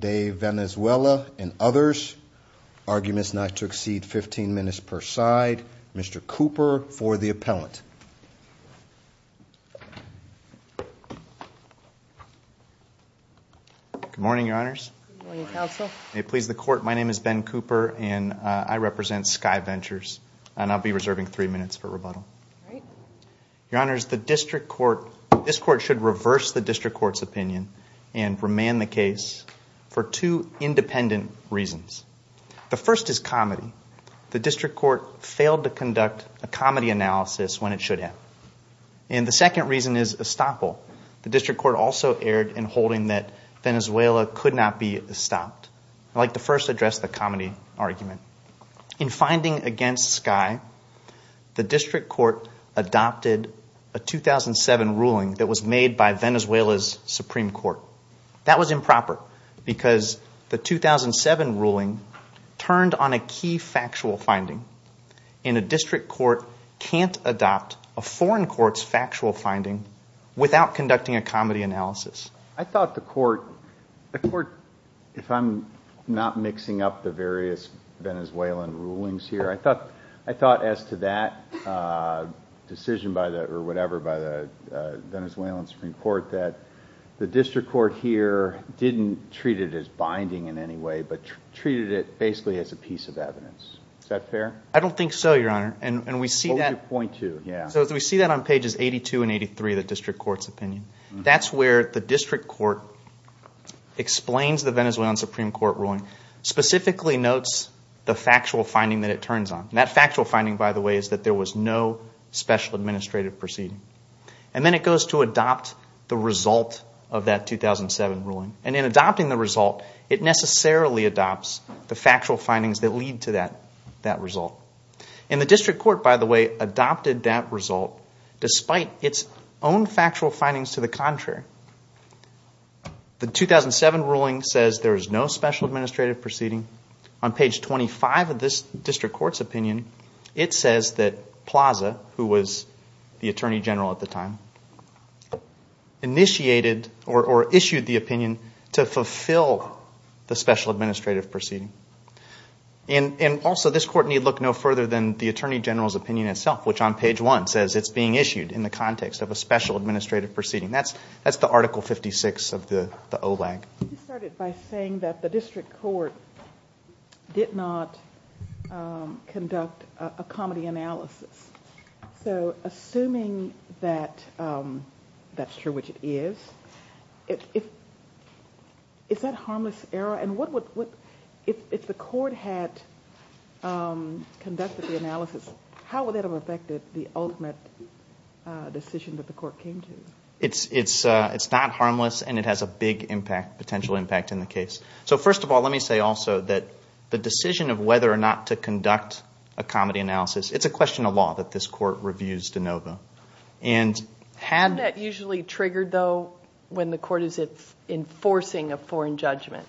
De Venezuela and others. Arguments not to exceed 15 minutes per side. Mr. Cooper for the appellant. Good morning, Your Honors. Good morning, Counsel. May it please the Court, my name is Ben Cooper. I'm here on behalf of the Appellant, Ben Cooper, and I represent Sky Ventures, and I'll be reserving three minutes for rebuttal. Your Honors, this Court should reverse the District Court's opinion and remand the case for two independent reasons. The first is comedy. The District Court failed to conduct a comedy analysis when it should have. And the second reason is estoppel. The District Court also erred in holding that Venezuela could not be estopped. I'd like to first address the comedy argument. In finding against Sky, the District Court adopted a 2007 ruling that was made by Venezuela's Supreme Court. That was improper because the 2007 ruling turned on a key factual finding. And a District Court can't adopt a foreign court's factual finding without conducting a comedy analysis. I thought the Court, if I'm not mixing up the various Venezuelan rulings here, I thought as to that decision by the Venezuelan Supreme Court that the District Court here didn't treat it as binding in any way, but treated it basically as a piece of evidence. Is that fair? I don't think so, Your Honor. And we see that on pages 82 and 83 of the District Court's opinion. That's where the District Court explains the Venezuelan Supreme Court ruling, specifically notes the factual finding that it turns on. That factual finding, by the way, is that there was no special administrative proceeding. And then it goes to adopt the result of that 2007 ruling. And in adopting the result, it necessarily adopts the factual findings that lead to that result. And the District Court, by the way, adopted that result despite its own factual findings to the contrary. The 2007 ruling says there is no special administrative proceeding. On page 25 of this District Court's opinion, it says that Plaza, who was the Attorney General at the time, initiated or issued the opinion to fulfill the special administrative proceeding. And also this Court need look no further than the Attorney General's opinion itself, which on page 1 says it's being issued in the context of a special administrative proceeding. That's the Article 56 of the OLAG. You started by saying that the District Court did not conduct a comedy analysis. So assuming that that's true, which it is, is that harmless error? And if the Court had conducted the analysis, how would that have affected the ultimate decision that the Court came to? It's not harmless and it has a big impact, potential impact in the case. So first of all, let me say also that the decision of whether or not to conduct a comedy analysis, it's a question of law that this Court reviews de novo. Isn't that usually triggered, though, when the Court is enforcing a foreign judgment?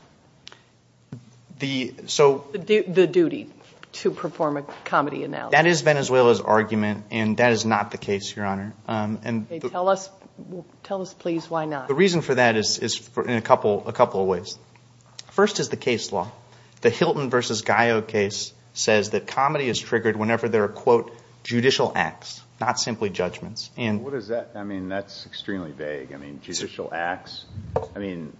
The duty to perform a comedy analysis. That is Venezuela's argument, and that is not the case, Your Honor. Tell us please why not. The reason for that is in a couple of ways. First is the case law. The Hilton v. Gallo case says that comedy is triggered whenever there are, quote, judicial acts, not simply judgments. What is that? I mean, that's extremely vague. I mean, judicial acts? I mean,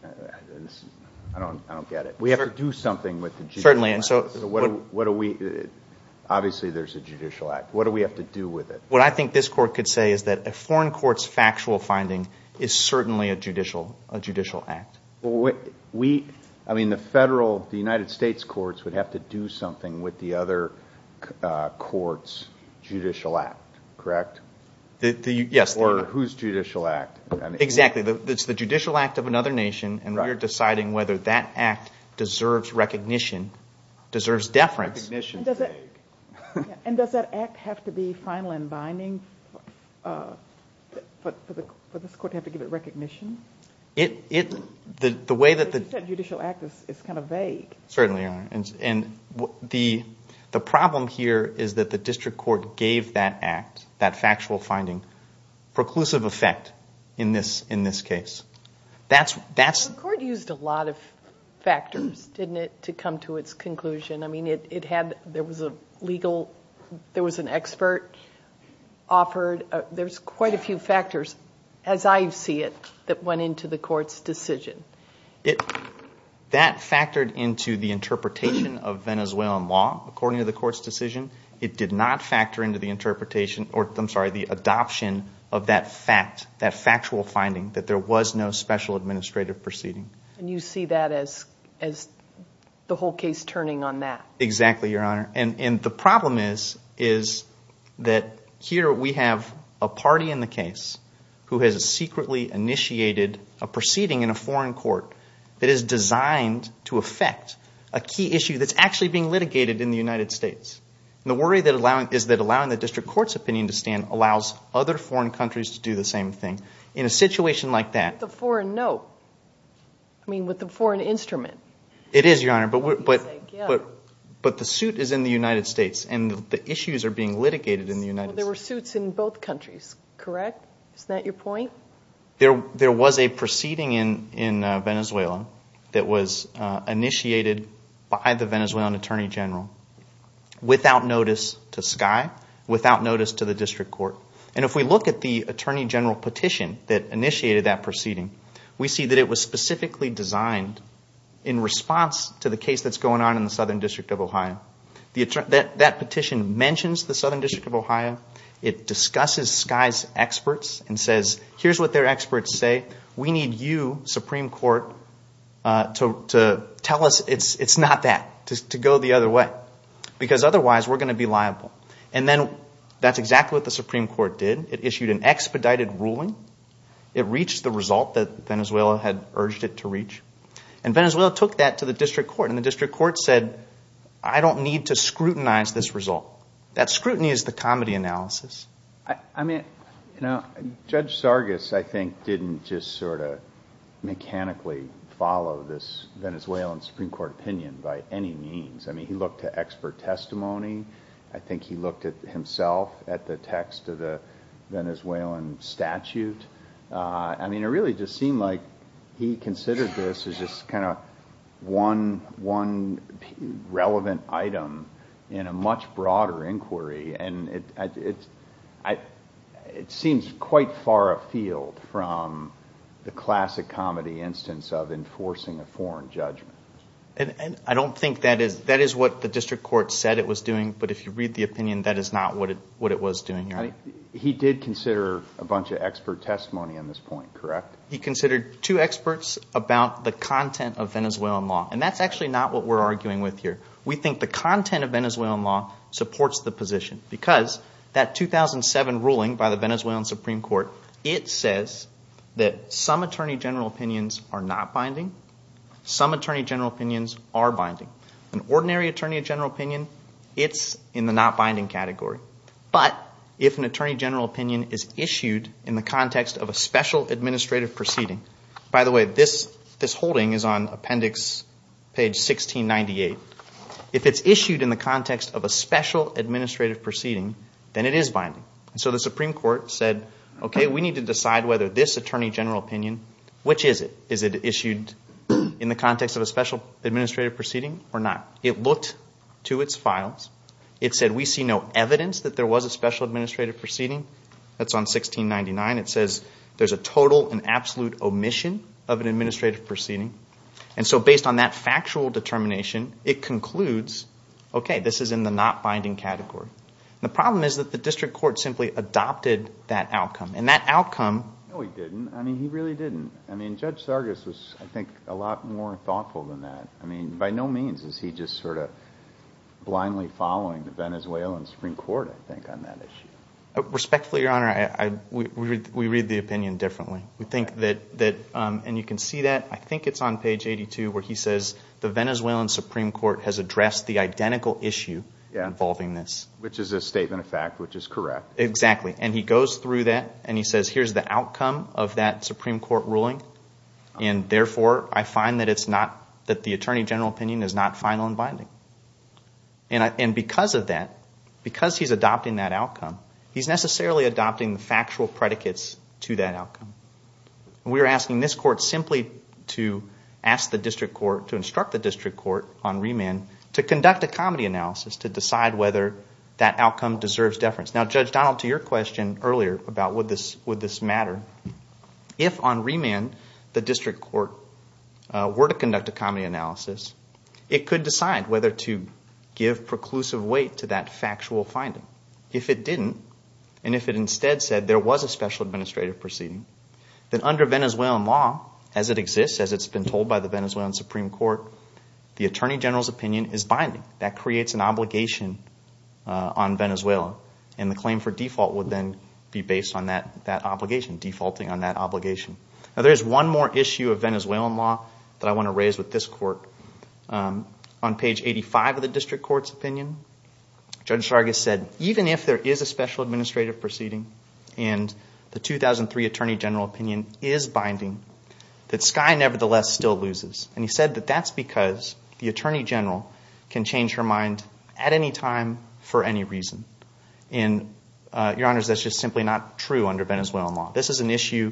I don't get it. We have to do something with the judicial acts. Obviously there's a judicial act. What do we have to do with it? What I think this Court could say is that a foreign court's factual finding is certainly a judicial act. I mean, the federal, the United States courts would have to do something with the other court's judicial act, correct? Yes. Or whose judicial act? Exactly. It's the judicial act of another nation, and we're deciding whether that act deserves recognition, deserves deference. Recognition is vague. And does that act have to be final and binding for this Court to have to give it recognition? It, the way that the- Because you said judicial act is kind of vague. Certainly. And the problem here is that the district court gave that act, that factual finding, preclusive effect in this case. That's- The court used a lot of factors, didn't it, to come to its conclusion. I mean, it had, there was a legal, there was an expert offered. There's quite a few factors, as I see it, that went into the Court's decision. That factored into the interpretation of Venezuelan law, according to the Court's decision. It did not factor into the interpretation, or I'm sorry, the adoption of that fact, that factual finding, that there was no special administrative proceeding. And you see that as the whole case turning on that. Exactly, Your Honor. And the problem is that here we have a party in the case who has secretly initiated a proceeding in a foreign court that is designed to affect a key issue that's actually being litigated in the United States. And the worry is that allowing the district court's opinion to stand allows other foreign countries to do the same thing. In a situation like that- Except the foreign note. I mean, with the foreign instrument. It is, Your Honor, but the suit is in the United States, and the issues are being litigated in the United States. Well, there were suits in both countries, correct? Isn't that your point? There was a proceeding in Venezuela that was initiated by the Venezuelan Attorney General, without notice to Sky, without notice to the district court. And if we look at the Attorney General petition that initiated that proceeding, we see that it was specifically designed in response to the case that's going on in the Southern District of Ohio. That petition mentions the Southern District of Ohio. It discusses Sky's experts and says, here's what their experts say. We need you, Supreme Court, to tell us it's not that, to go the other way. Because otherwise, we're going to be liable. And then that's exactly what the Supreme Court did. It issued an expedited ruling. It reached the result that Venezuela had urged it to reach. And Venezuela took that to the district court, and the district court said, I don't need to scrutinize this result. That scrutiny is the comedy analysis. I mean, Judge Sargas, I think, didn't just sort of mechanically follow this Venezuelan Supreme Court opinion by any means. I mean, he looked to expert testimony. I think he looked at himself at the text of the Venezuelan statute. I mean, it really just seemed like he considered this as just kind of one relevant item in a much broader inquiry. And it seems quite far afield from the classic comedy instance of enforcing a foreign judgment. And I don't think that is what the district court said it was doing. But if you read the opinion, that is not what it was doing. He did consider a bunch of expert testimony on this point, correct? He considered two experts about the content of Venezuelan law. And that's actually not what we're arguing with here. We think the content of Venezuelan law supports the position because that 2007 ruling by the Venezuelan Supreme Court, it says that some attorney general opinions are not binding. Some attorney general opinions are binding. An ordinary attorney general opinion, it's in the not binding category. But if an attorney general opinion is issued in the context of a special administrative proceeding – by the way, this holding is on appendix page 1698. If it's issued in the context of a special administrative proceeding, then it is binding. So the Supreme Court said, okay, we need to decide whether this attorney general opinion – which is it? Is it issued in the context of a special administrative proceeding or not? It looked to its files. It said we see no evidence that there was a special administrative proceeding. That's on 1699. It says there's a total and absolute omission of an administrative proceeding. And so based on that factual determination, it concludes, okay, this is in the not binding category. The problem is that the district court simply adopted that outcome, and that outcome – No, he didn't. I mean he really didn't. I mean Judge Sargas was, I think, a lot more thoughtful than that. I mean by no means is he just sort of blindly following the Venezuelan Supreme Court, I think, on that issue. Respectfully, Your Honor, we read the opinion differently. We think that – and you can see that. I think it's on page 82 where he says the Venezuelan Supreme Court has addressed the identical issue involving this. Which is a statement of fact, which is correct. Exactly. And he goes through that and he says here's the outcome of that Supreme Court ruling, and therefore I find that it's not – that the attorney general opinion is not final and binding. And because of that, because he's adopting that outcome, he's necessarily adopting the factual predicates to that outcome. We are asking this court simply to ask the district court – to instruct the district court on remand to conduct a comedy analysis to decide whether that outcome deserves deference. Now, Judge Donald, to your question earlier about would this matter, if on remand the district court were to conduct a comedy analysis, it could decide whether to give preclusive weight to that factual finding. If it didn't, and if it instead said there was a special administrative proceeding, then under Venezuelan law as it exists, as it's been told by the Venezuelan Supreme Court, the attorney general's opinion is binding. That creates an obligation on Venezuela, and the claim for default would then be based on that obligation, defaulting on that obligation. Now, there is one more issue of Venezuelan law that I want to raise with this court. On page 85 of the district court's opinion, Judge Sargas said even if there is a special administrative proceeding and the 2003 attorney general opinion is binding, that Skye nevertheless still loses. And he said that that's because the attorney general can change her mind at any time for any reason. And, Your Honors, that's just simply not true under Venezuelan law. This is an issue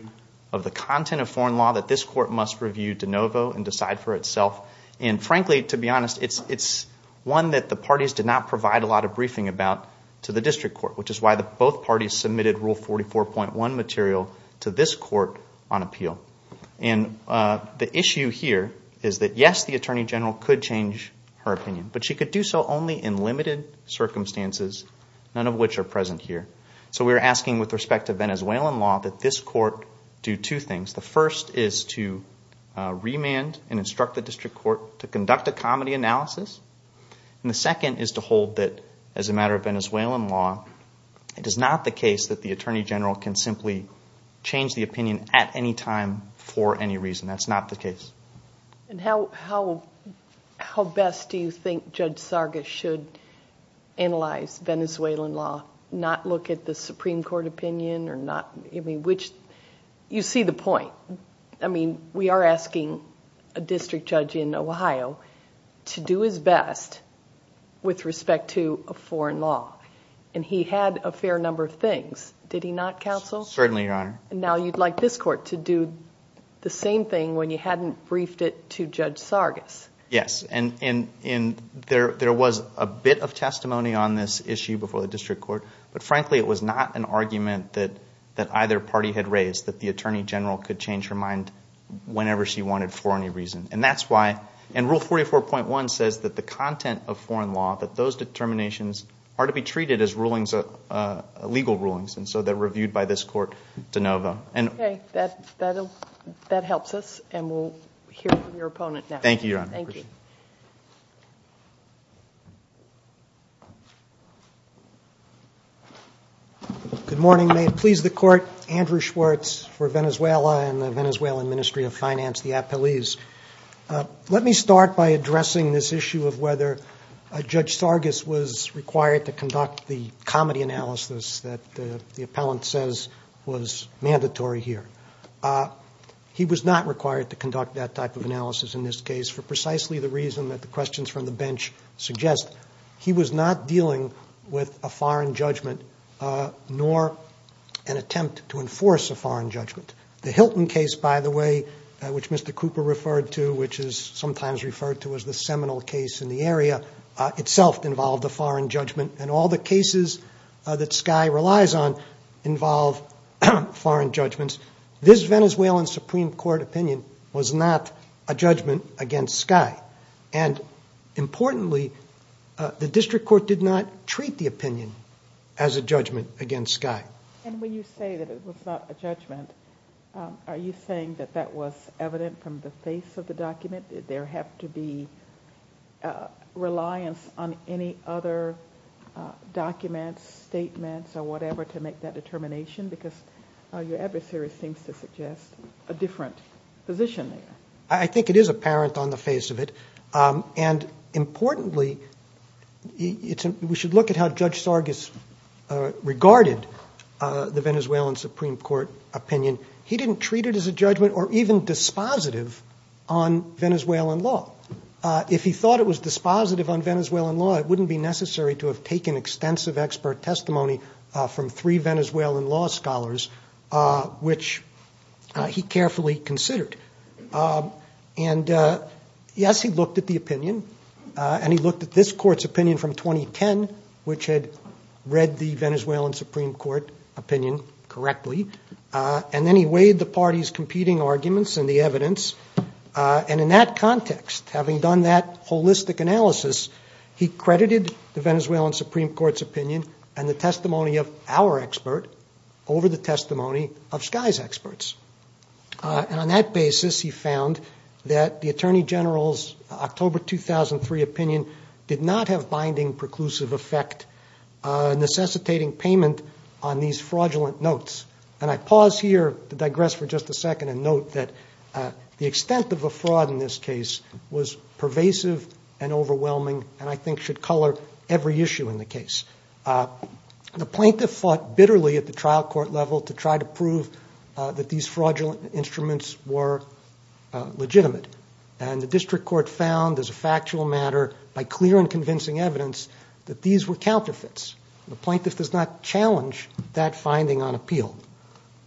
of the content of foreign law that this court must review de novo and decide for itself. And frankly, to be honest, it's one that the parties did not provide a lot of briefing about to the district court, which is why both parties submitted Rule 44.1 material to this court on appeal. And the issue here is that, yes, the attorney general could change her opinion, but she could do so only in limited circumstances, none of which are present here. So we're asking with respect to Venezuelan law that this court do two things. The first is to remand and instruct the district court to conduct a comedy analysis. And the second is to hold that as a matter of Venezuelan law, it is not the case that the attorney general can simply change the opinion at any time for any reason. That's not the case. And how best do you think Judge Sargas should analyze Venezuelan law, not look at the Supreme Court opinion or not? I mean, you see the point. I mean, we are asking a district judge in Ohio to do his best with respect to a foreign law. And he had a fair number of things. Did he not, counsel? Certainly, Your Honor. Now you'd like this court to do the same thing when you hadn't briefed it to Judge Sargas. Yes. And there was a bit of testimony on this issue before the district court. But frankly, it was not an argument that either party had raised, that the attorney general could change her mind whenever she wanted for any reason. And that's why rule 44.1 says that the content of foreign law, that those determinations are to be treated as legal rulings. And so they're reviewed by this court de novo. Okay. That helps us. And we'll hear from your opponent now. Thank you, Your Honor. Thank you. Good morning. May it please the Court. Andrew Schwartz for Venezuela and the Venezuelan Ministry of Finance, the Apeliz. Let me start by addressing this issue of whether Judge Sargas was required to conduct the comedy analysis that the appellant says was mandatory here. He was not required to conduct that type of analysis in this case for precisely the reason that the questions from the bench suggest. He was not dealing with a foreign judgment nor an attempt to enforce a foreign judgment. The Hilton case, by the way, which Mr. Cooper referred to, which is sometimes referred to as the seminal case in the area, itself involved a foreign judgment. And all the cases that Sky relies on involve foreign judgments. This Venezuelan Supreme Court opinion was not a judgment against Sky. And importantly, the district court did not treat the opinion as a judgment against Sky. And when you say that it was not a judgment, are you saying that that was evident from the face of the document? Did there have to be reliance on any other documents, statements, or whatever to make that determination? Because your adversary seems to suggest a different position there. I think it is apparent on the face of it. And importantly, we should look at how Judge Sargas regarded the Venezuelan Supreme Court opinion. He didn't treat it as a judgment or even dispositive on Venezuelan law. If he thought it was dispositive on Venezuelan law, it wouldn't be necessary to have taken extensive expert testimony from three Venezuelan law scholars, which he carefully considered. And, yes, he looked at the opinion. And he looked at this Court's opinion from 2010, which had read the Venezuelan Supreme Court opinion correctly. And then he weighed the parties' competing arguments and the evidence. And in that context, having done that holistic analysis, he credited the Venezuelan Supreme Court's opinion and the testimony of our expert over the testimony of Sky's experts. And on that basis, he found that the Attorney General's October 2003 opinion did not have binding preclusive effect, necessitating payment on these fraudulent notes. And I pause here to digress for just a second and note that the extent of the fraud in this case was pervasive and overwhelming, and I think should color every issue in the case. The plaintiff fought bitterly at the trial court level to try to prove that these fraudulent instruments were legitimate. And the district court found, as a factual matter, by clear and convincing evidence, that these were counterfeits. The plaintiff does not challenge that finding on appeal,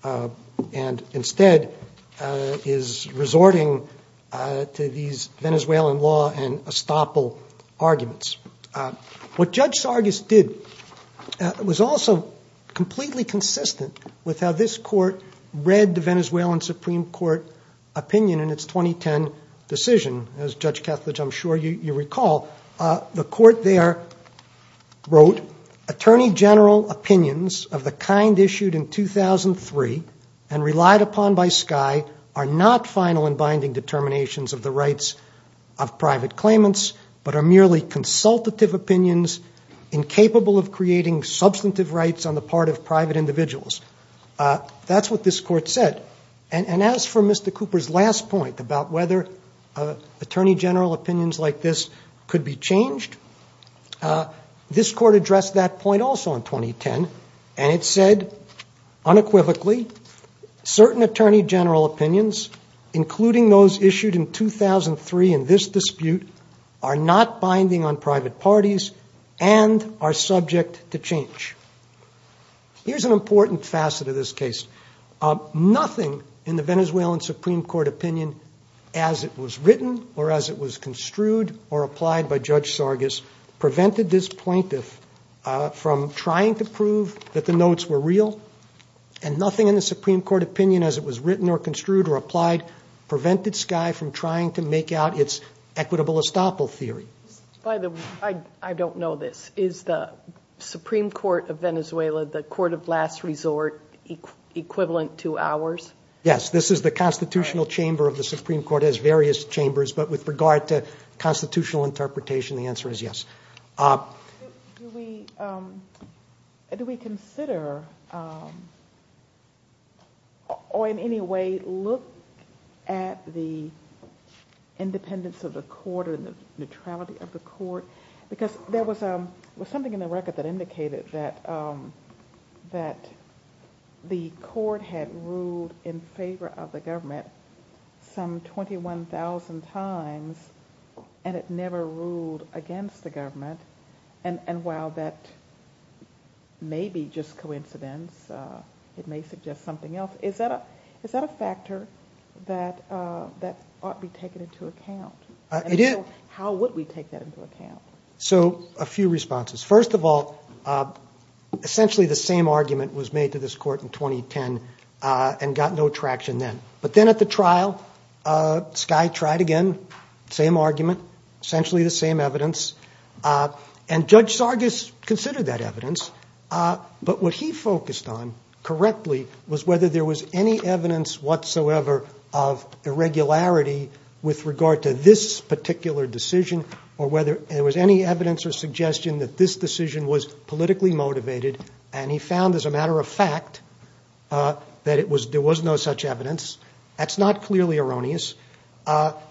and instead is resorting to these Venezuelan law and estoppel arguments. What Judge Sargis did was also completely consistent with how this court read the Venezuelan Supreme Court opinion in its 2010 decision. As, Judge Kethledge, I'm sure you recall, the court there wrote, Attorney General opinions of the kind issued in 2003 and relied upon by Sky are not final and binding determinations of the rights of private claimants, but are merely consultative opinions incapable of creating substantive rights on the part of private individuals. That's what this court said. And as for Mr. Cooper's last point about whether Attorney General opinions like this could be changed, this court addressed that point also in 2010, and it said, unequivocally, certain Attorney General opinions, including those issued in 2003 in this dispute, are not binding on private parties and are subject to change. Here's an important facet of this case. Nothing in the Venezuelan Supreme Court opinion, as it was written or as it was construed or applied by Judge Sargis, prevented this plaintiff from trying to prove that the notes were real, and nothing in the Supreme Court opinion, as it was written or construed or applied, prevented Sky from trying to make out its equitable estoppel theory. By the way, I don't know this. Is the Supreme Court of Venezuela the court of last resort equivalent to ours? Yes. This is the constitutional chamber of the Supreme Court. It has various chambers, but with regard to constitutional interpretation, the answer is yes. Do we consider or in any way look at the independence of the court or the neutrality of the court? Because there was something in the record that indicated that the court had ruled in favor of the government some 21,000 times and it never ruled against the government. And while that may be just coincidence, it may suggest something else, is that a factor that ought to be taken into account? How would we take that into account? So, a few responses. First of all, essentially the same argument was made to this court in 2010 and got no traction then. But then at the trial, Sky tried again, same argument, essentially the same evidence. And Judge Sargis considered that evidence. But what he focused on correctly was whether there was any evidence whatsoever of irregularity with regard to this particular decision or whether there was any evidence or suggestion that this decision was politically motivated. And he found, as a matter of fact, that there was no such evidence. That's not clearly erroneous.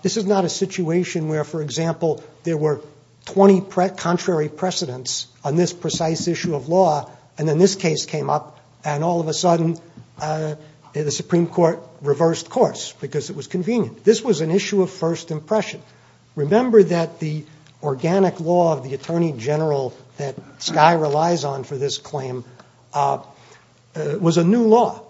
This is not a situation where, for example, there were 20 contrary precedents on this precise issue of law and then this case came up and all of a sudden the Supreme Court reversed course because it was convenient. This was an issue of first impression. Remember that the organic law of the Attorney General that Sky relies on for this claim was a new law.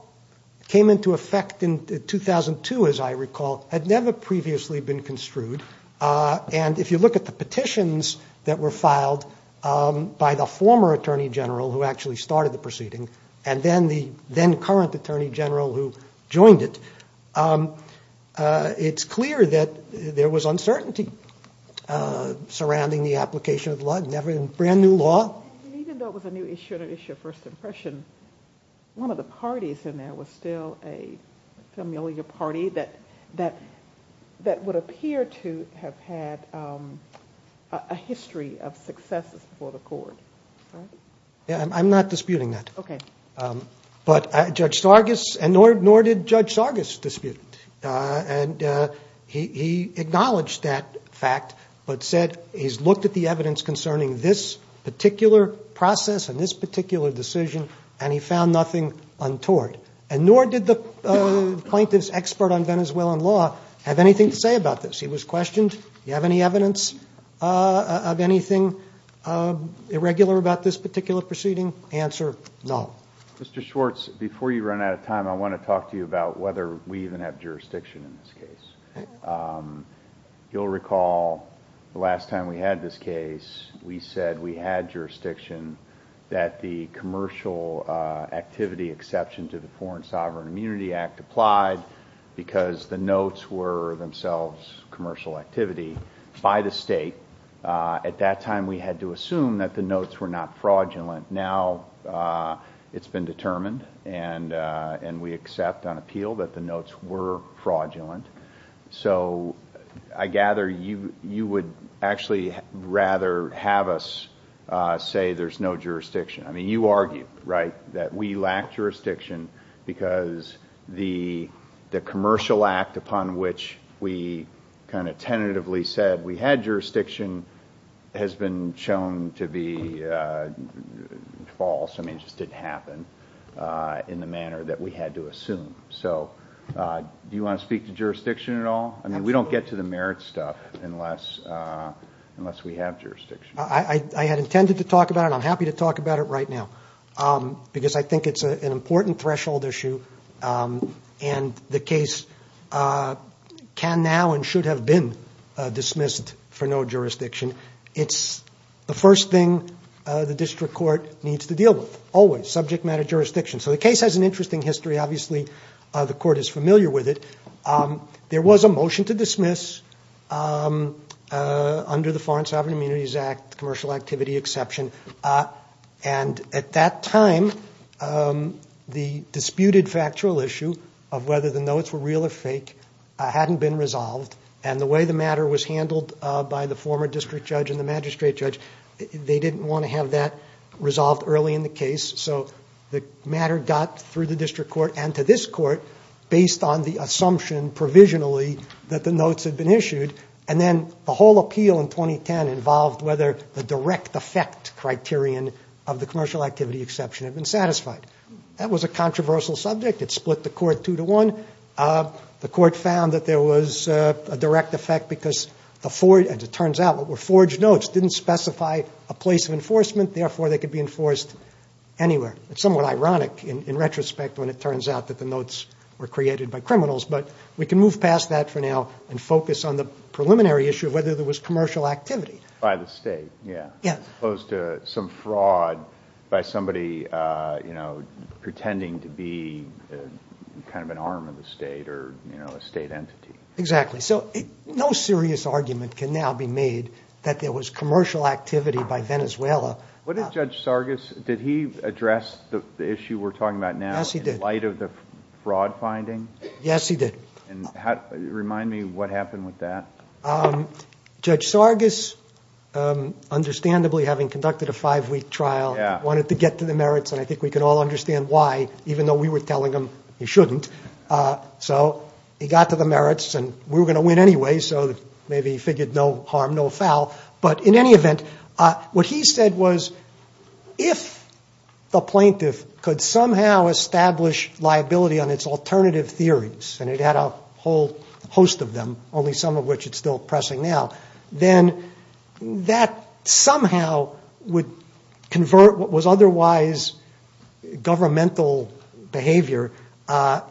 It came into effect in 2002, as I recall. It had never previously been construed. And if you look at the petitions that were filed by the former Attorney General, who actually started the proceeding, and then the then current Attorney General who joined it, it's clear that there was uncertainty surrounding the application of the law, never in brand new law. Even though it was a new issue, an issue of first impression, one of the parties in there was still a familiar party that would appear to have had a history of successes before the court. I'm not disputing that. Okay. But Judge Sargis, and nor did Judge Sargis dispute it. And he acknowledged that fact but said he's looked at the evidence concerning this particular process and this particular decision and he found nothing untoward. And nor did the plaintiff's expert on Venezuelan law have anything to say about this. He was questioned. Do you have any evidence of anything irregular about this particular proceeding? Answer, no. Mr. Schwartz, before you run out of time, I want to talk to you about whether we even have jurisdiction in this case. You'll recall the last time we had this case, we said we had jurisdiction that the commercial activity exception to the Foreign Sovereign Immunity Act applied because the notes were themselves commercial activity by the state. At that time, we had to assume that the notes were not fraudulent. Now it's been determined and we accept on appeal that the notes were fraudulent. So I gather you would actually rather have us say there's no jurisdiction. I mean, you argued, right, that we lack jurisdiction because the commercial act upon which we kind of tentatively said we had jurisdiction has been shown to be false. I mean, it just didn't happen in the manner that we had to assume. So do you want to speak to jurisdiction at all? I mean, we don't get to the merit stuff unless we have jurisdiction. I had intended to talk about it. I'm happy to talk about it right now because I think it's an important threshold issue and the case can now and should have been dismissed for no jurisdiction. It's the first thing the district court needs to deal with always, subject matter jurisdiction. So the case has an interesting history. Obviously, the court is familiar with it. There was a motion to dismiss under the Foreign Sovereign Immunities Act commercial activity exception. And at that time, the disputed factual issue of whether the notes were real or fake hadn't been resolved. And the way the matter was handled by the former district judge and the magistrate judge, they didn't want to have that resolved early in the case. So the matter got through the district court and to this court based on the assumption provisionally that the notes had been issued. And then the whole appeal in 2010 involved whether the direct effect criterion of the commercial activity exception had been satisfied. That was a controversial subject. It split the court two to one. The court found that there was a direct effect because, as it turns out, what were forged notes didn't specify a place of enforcement. Therefore, they could be enforced anywhere. It's somewhat ironic in retrospect when it turns out that the notes were created by criminals. But we can move past that for now and focus on the preliminary issue of whether there was commercial activity. By the state, yeah. Yeah. As opposed to some fraud by somebody, you know, pretending to be kind of an arm of the state or, you know, a state entity. Exactly. So no serious argument can now be made that there was commercial activity by Venezuela. What did Judge Sargas, did he address the issue we're talking about now? Yes, he did. In light of the fraud finding? Yes, he did. And remind me what happened with that. Judge Sargas, understandably, having conducted a five-week trial, wanted to get to the merits, and I think we can all understand why, even though we were telling him he shouldn't. So he got to the merits, and we were going to win anyway, so maybe he figured no harm, no foul. But in any event, what he said was, if the plaintiff could somehow establish liability on its alternative theories, and it had a whole host of them, only some of which it's still pressing now, then that somehow would convert what was otherwise governmental behavior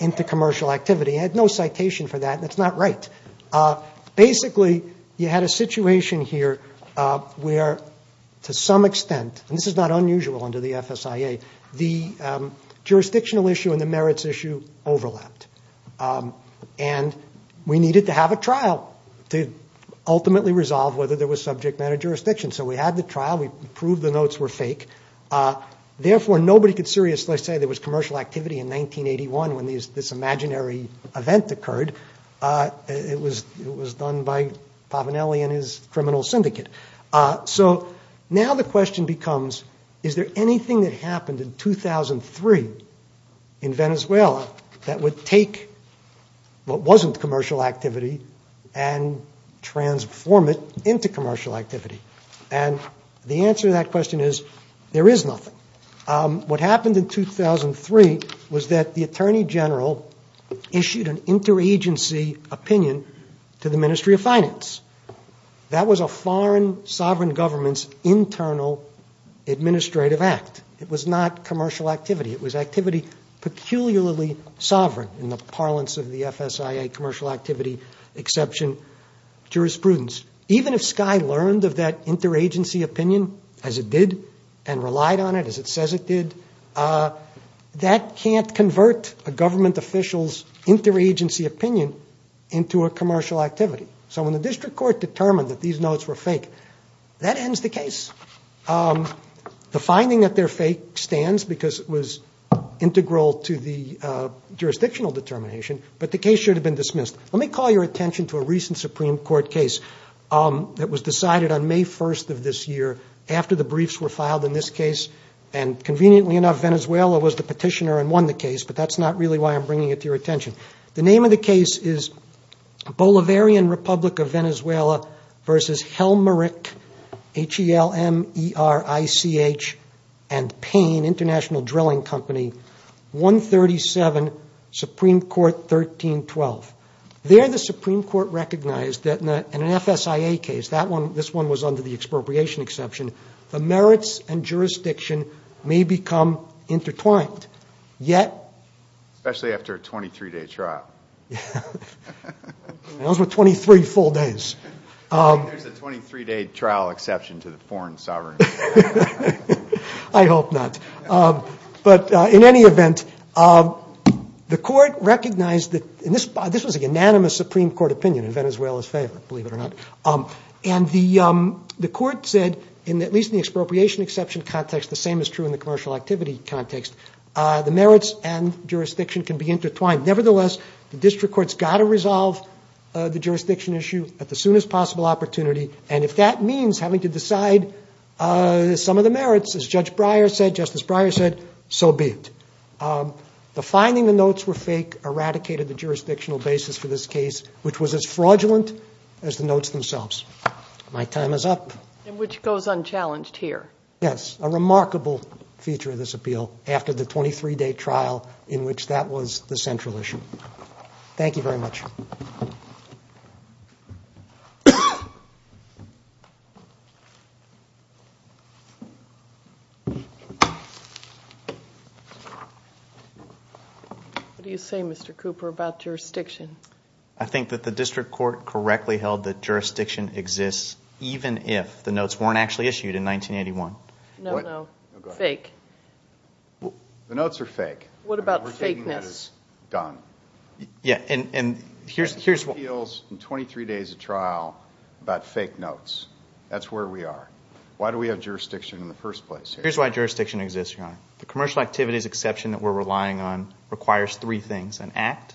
into commercial activity. He had no citation for that, and that's not right. Basically, you had a situation here where, to some extent, and this is not unusual under the FSIA, the jurisdictional issue and the merits issue overlapped, and we needed to have a trial to ultimately resolve whether there was subject matter jurisdiction. So we had the trial. We proved the notes were fake. Therefore, nobody could seriously say there was commercial activity in 1981 when this imaginary event occurred. It was done by Pavanelli and his criminal syndicate. So now the question becomes, is there anything that happened in 2003 in Venezuela that would take what wasn't commercial activity and transform it into commercial activity? And the answer to that question is, there is nothing. What happened in 2003 was that the Attorney General issued an interagency opinion to the Ministry of Finance. That was a foreign sovereign government's internal administrative act. It was not commercial activity. It was activity peculiarly sovereign in the parlance of the FSIA commercial activity exception jurisprudence. Even if Sky learned of that interagency opinion as it did and relied on it as it says it did, that can't convert a government official's interagency opinion into a commercial activity. So when the district court determined that these notes were fake, that ends the case. The finding that they're fake stands because it was integral to the jurisdictional determination, but the case should have been dismissed. Let me call your attention to a recent Supreme Court case that was decided on May 1st of this year after the briefs were filed in this case. And conveniently enough, Venezuela was the petitioner and won the case, but that's not really why I'm bringing it to your attention. The name of the case is Bolivarian Republic of Venezuela versus Helmerich, H-E-L-M-E-R-I-C-H and Payne International Drilling Company, 137 Supreme Court 1312. There the Supreme Court recognized that in an FSIA case, this one was under the expropriation exception, the merits and jurisdiction may become intertwined. Especially after a 23-day trial. Those were 23 full days. There's a 23-day trial exception to the foreign sovereignty. I hope not. But in any event, the court recognized that this was an anonymous Supreme Court opinion in Venezuela's favor, believe it or not. And the court said, at least in the expropriation exception context, the same is true in the commercial activity context, the merits and jurisdiction can be intertwined. Nevertheless, the district court's got to resolve the jurisdiction issue at the soonest possible opportunity. And if that means having to decide some of the merits, as Judge Breyer said, Justice Breyer said, so be it. The finding the notes were fake eradicated the jurisdictional basis for this case, which was as fraudulent as the notes themselves. My time is up. And which goes unchallenged here. Yes, a remarkable feature of this appeal after the 23-day trial in which that was the central issue. Thank you very much. What do you say, Mr. Cooper, about jurisdiction? I think that the district court correctly held that jurisdiction exists even if the notes weren't actually issued in 1981. No, no. Fake. The notes are fake. What about fakeness? We're taking that as done. Yeah, and here's what – Appeals in 23 days of trial about fake notes. That's where we are. Why do we have jurisdiction in the first place here? Here's why jurisdiction exists, Your Honor. The commercial activities exception that we're relying on requires three things. An act,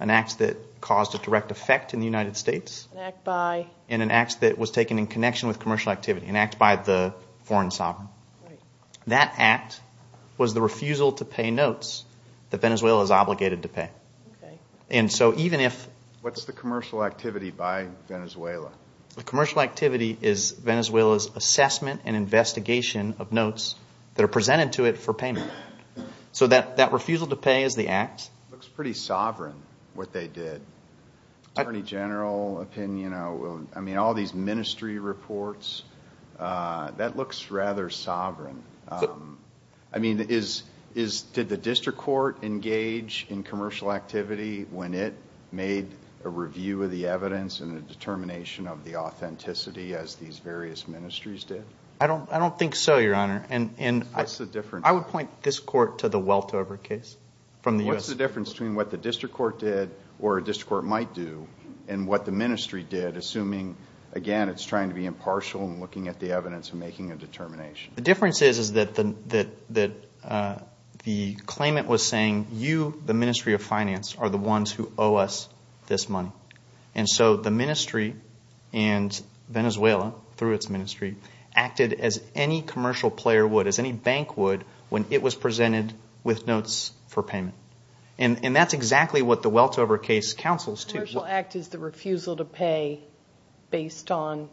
an act that caused a direct effect in the United States. An act by? And an act that was taken in connection with commercial activity, an act by the foreign sovereign. Right. That act was the refusal to pay notes that Venezuela is obligated to pay. Okay. And so even if – What's the commercial activity by Venezuela? The commercial activity is Venezuela's assessment and investigation of notes that are presented to it for payment. So that refusal to pay is the act. It looks pretty sovereign what they did. Attorney General opinion, I mean, all these ministry reports, that looks rather sovereign. I mean, did the district court engage in commercial activity when it made a review of the evidence and a determination of the authenticity as these various ministries did? I don't think so, Your Honor. What's the difference? I would point this court to the Weltover case from the U.S. What's the difference between what the district court did or a district court might do and what the ministry did, assuming, again, it's trying to be impartial and looking at the evidence and making a determination? The difference is, is that the claimant was saying, you, the Ministry of Finance, are the ones who owe us this money. And so the ministry and Venezuela, through its ministry, acted as any commercial player would, as any bank would, when it was presented with notes for payment. And that's exactly what the Weltover case counsels to. The commercial act is the refusal to pay based on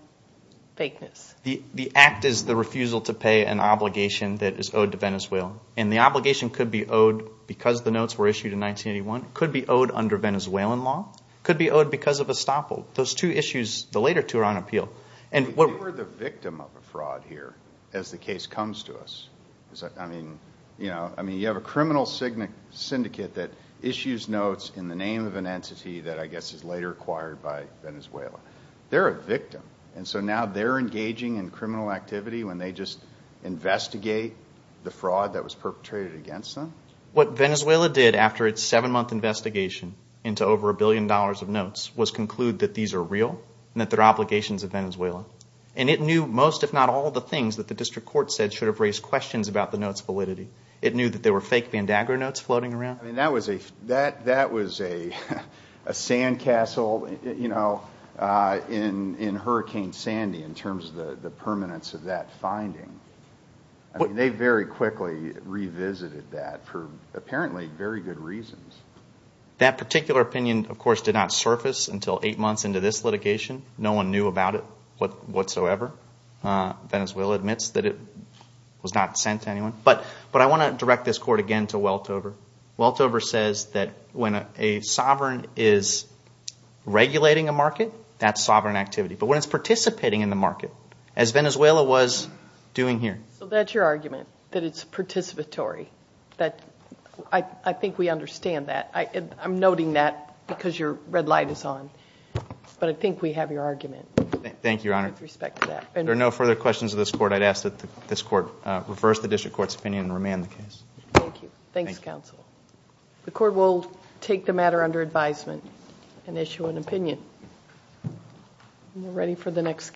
fakeness. The act is the refusal to pay an obligation that is owed to Venezuela. And the obligation could be owed because the notes were issued in 1981. It could be owed under Venezuelan law. It could be owed because of estoppel. Those two issues, the later two, are on appeal. They were the victim of a fraud here as the case comes to us. I mean, you have a criminal syndicate that issues notes in the name of an entity that I guess is later acquired by Venezuela. They're a victim, and so now they're engaging in criminal activity when they just investigate the fraud that was perpetrated against them? What Venezuela did after its seven-month investigation into over a billion dollars of notes was conclude that these are real and that they're obligations of Venezuela. And it knew most, if not all, of the things that the district court said should have raised questions about the notes' validity. It knew that there were fake Vandagra notes floating around. I mean, that was a sandcastle in Hurricane Sandy in terms of the permanence of that finding. I mean, they very quickly revisited that for apparently very good reasons. That particular opinion, of course, did not surface until eight months into this litigation. No one knew about it whatsoever. Venezuela admits that it was not sent to anyone. But I want to direct this court again to Weltover. Weltover says that when a sovereign is regulating a market, that's sovereign activity. But when it's participating in the market, as Venezuela was doing here. So that's your argument, that it's participatory. I think we understand that. I'm noting that because your red light is on. But I think we have your argument. Thank you, Your Honor. With respect to that. If there are no further questions of this court, I'd ask that this court reverse the district court's opinion and remand the case. Thank you. Thanks, counsel. The court will take the matter under advisement and issue an opinion. Are you ready for the next case?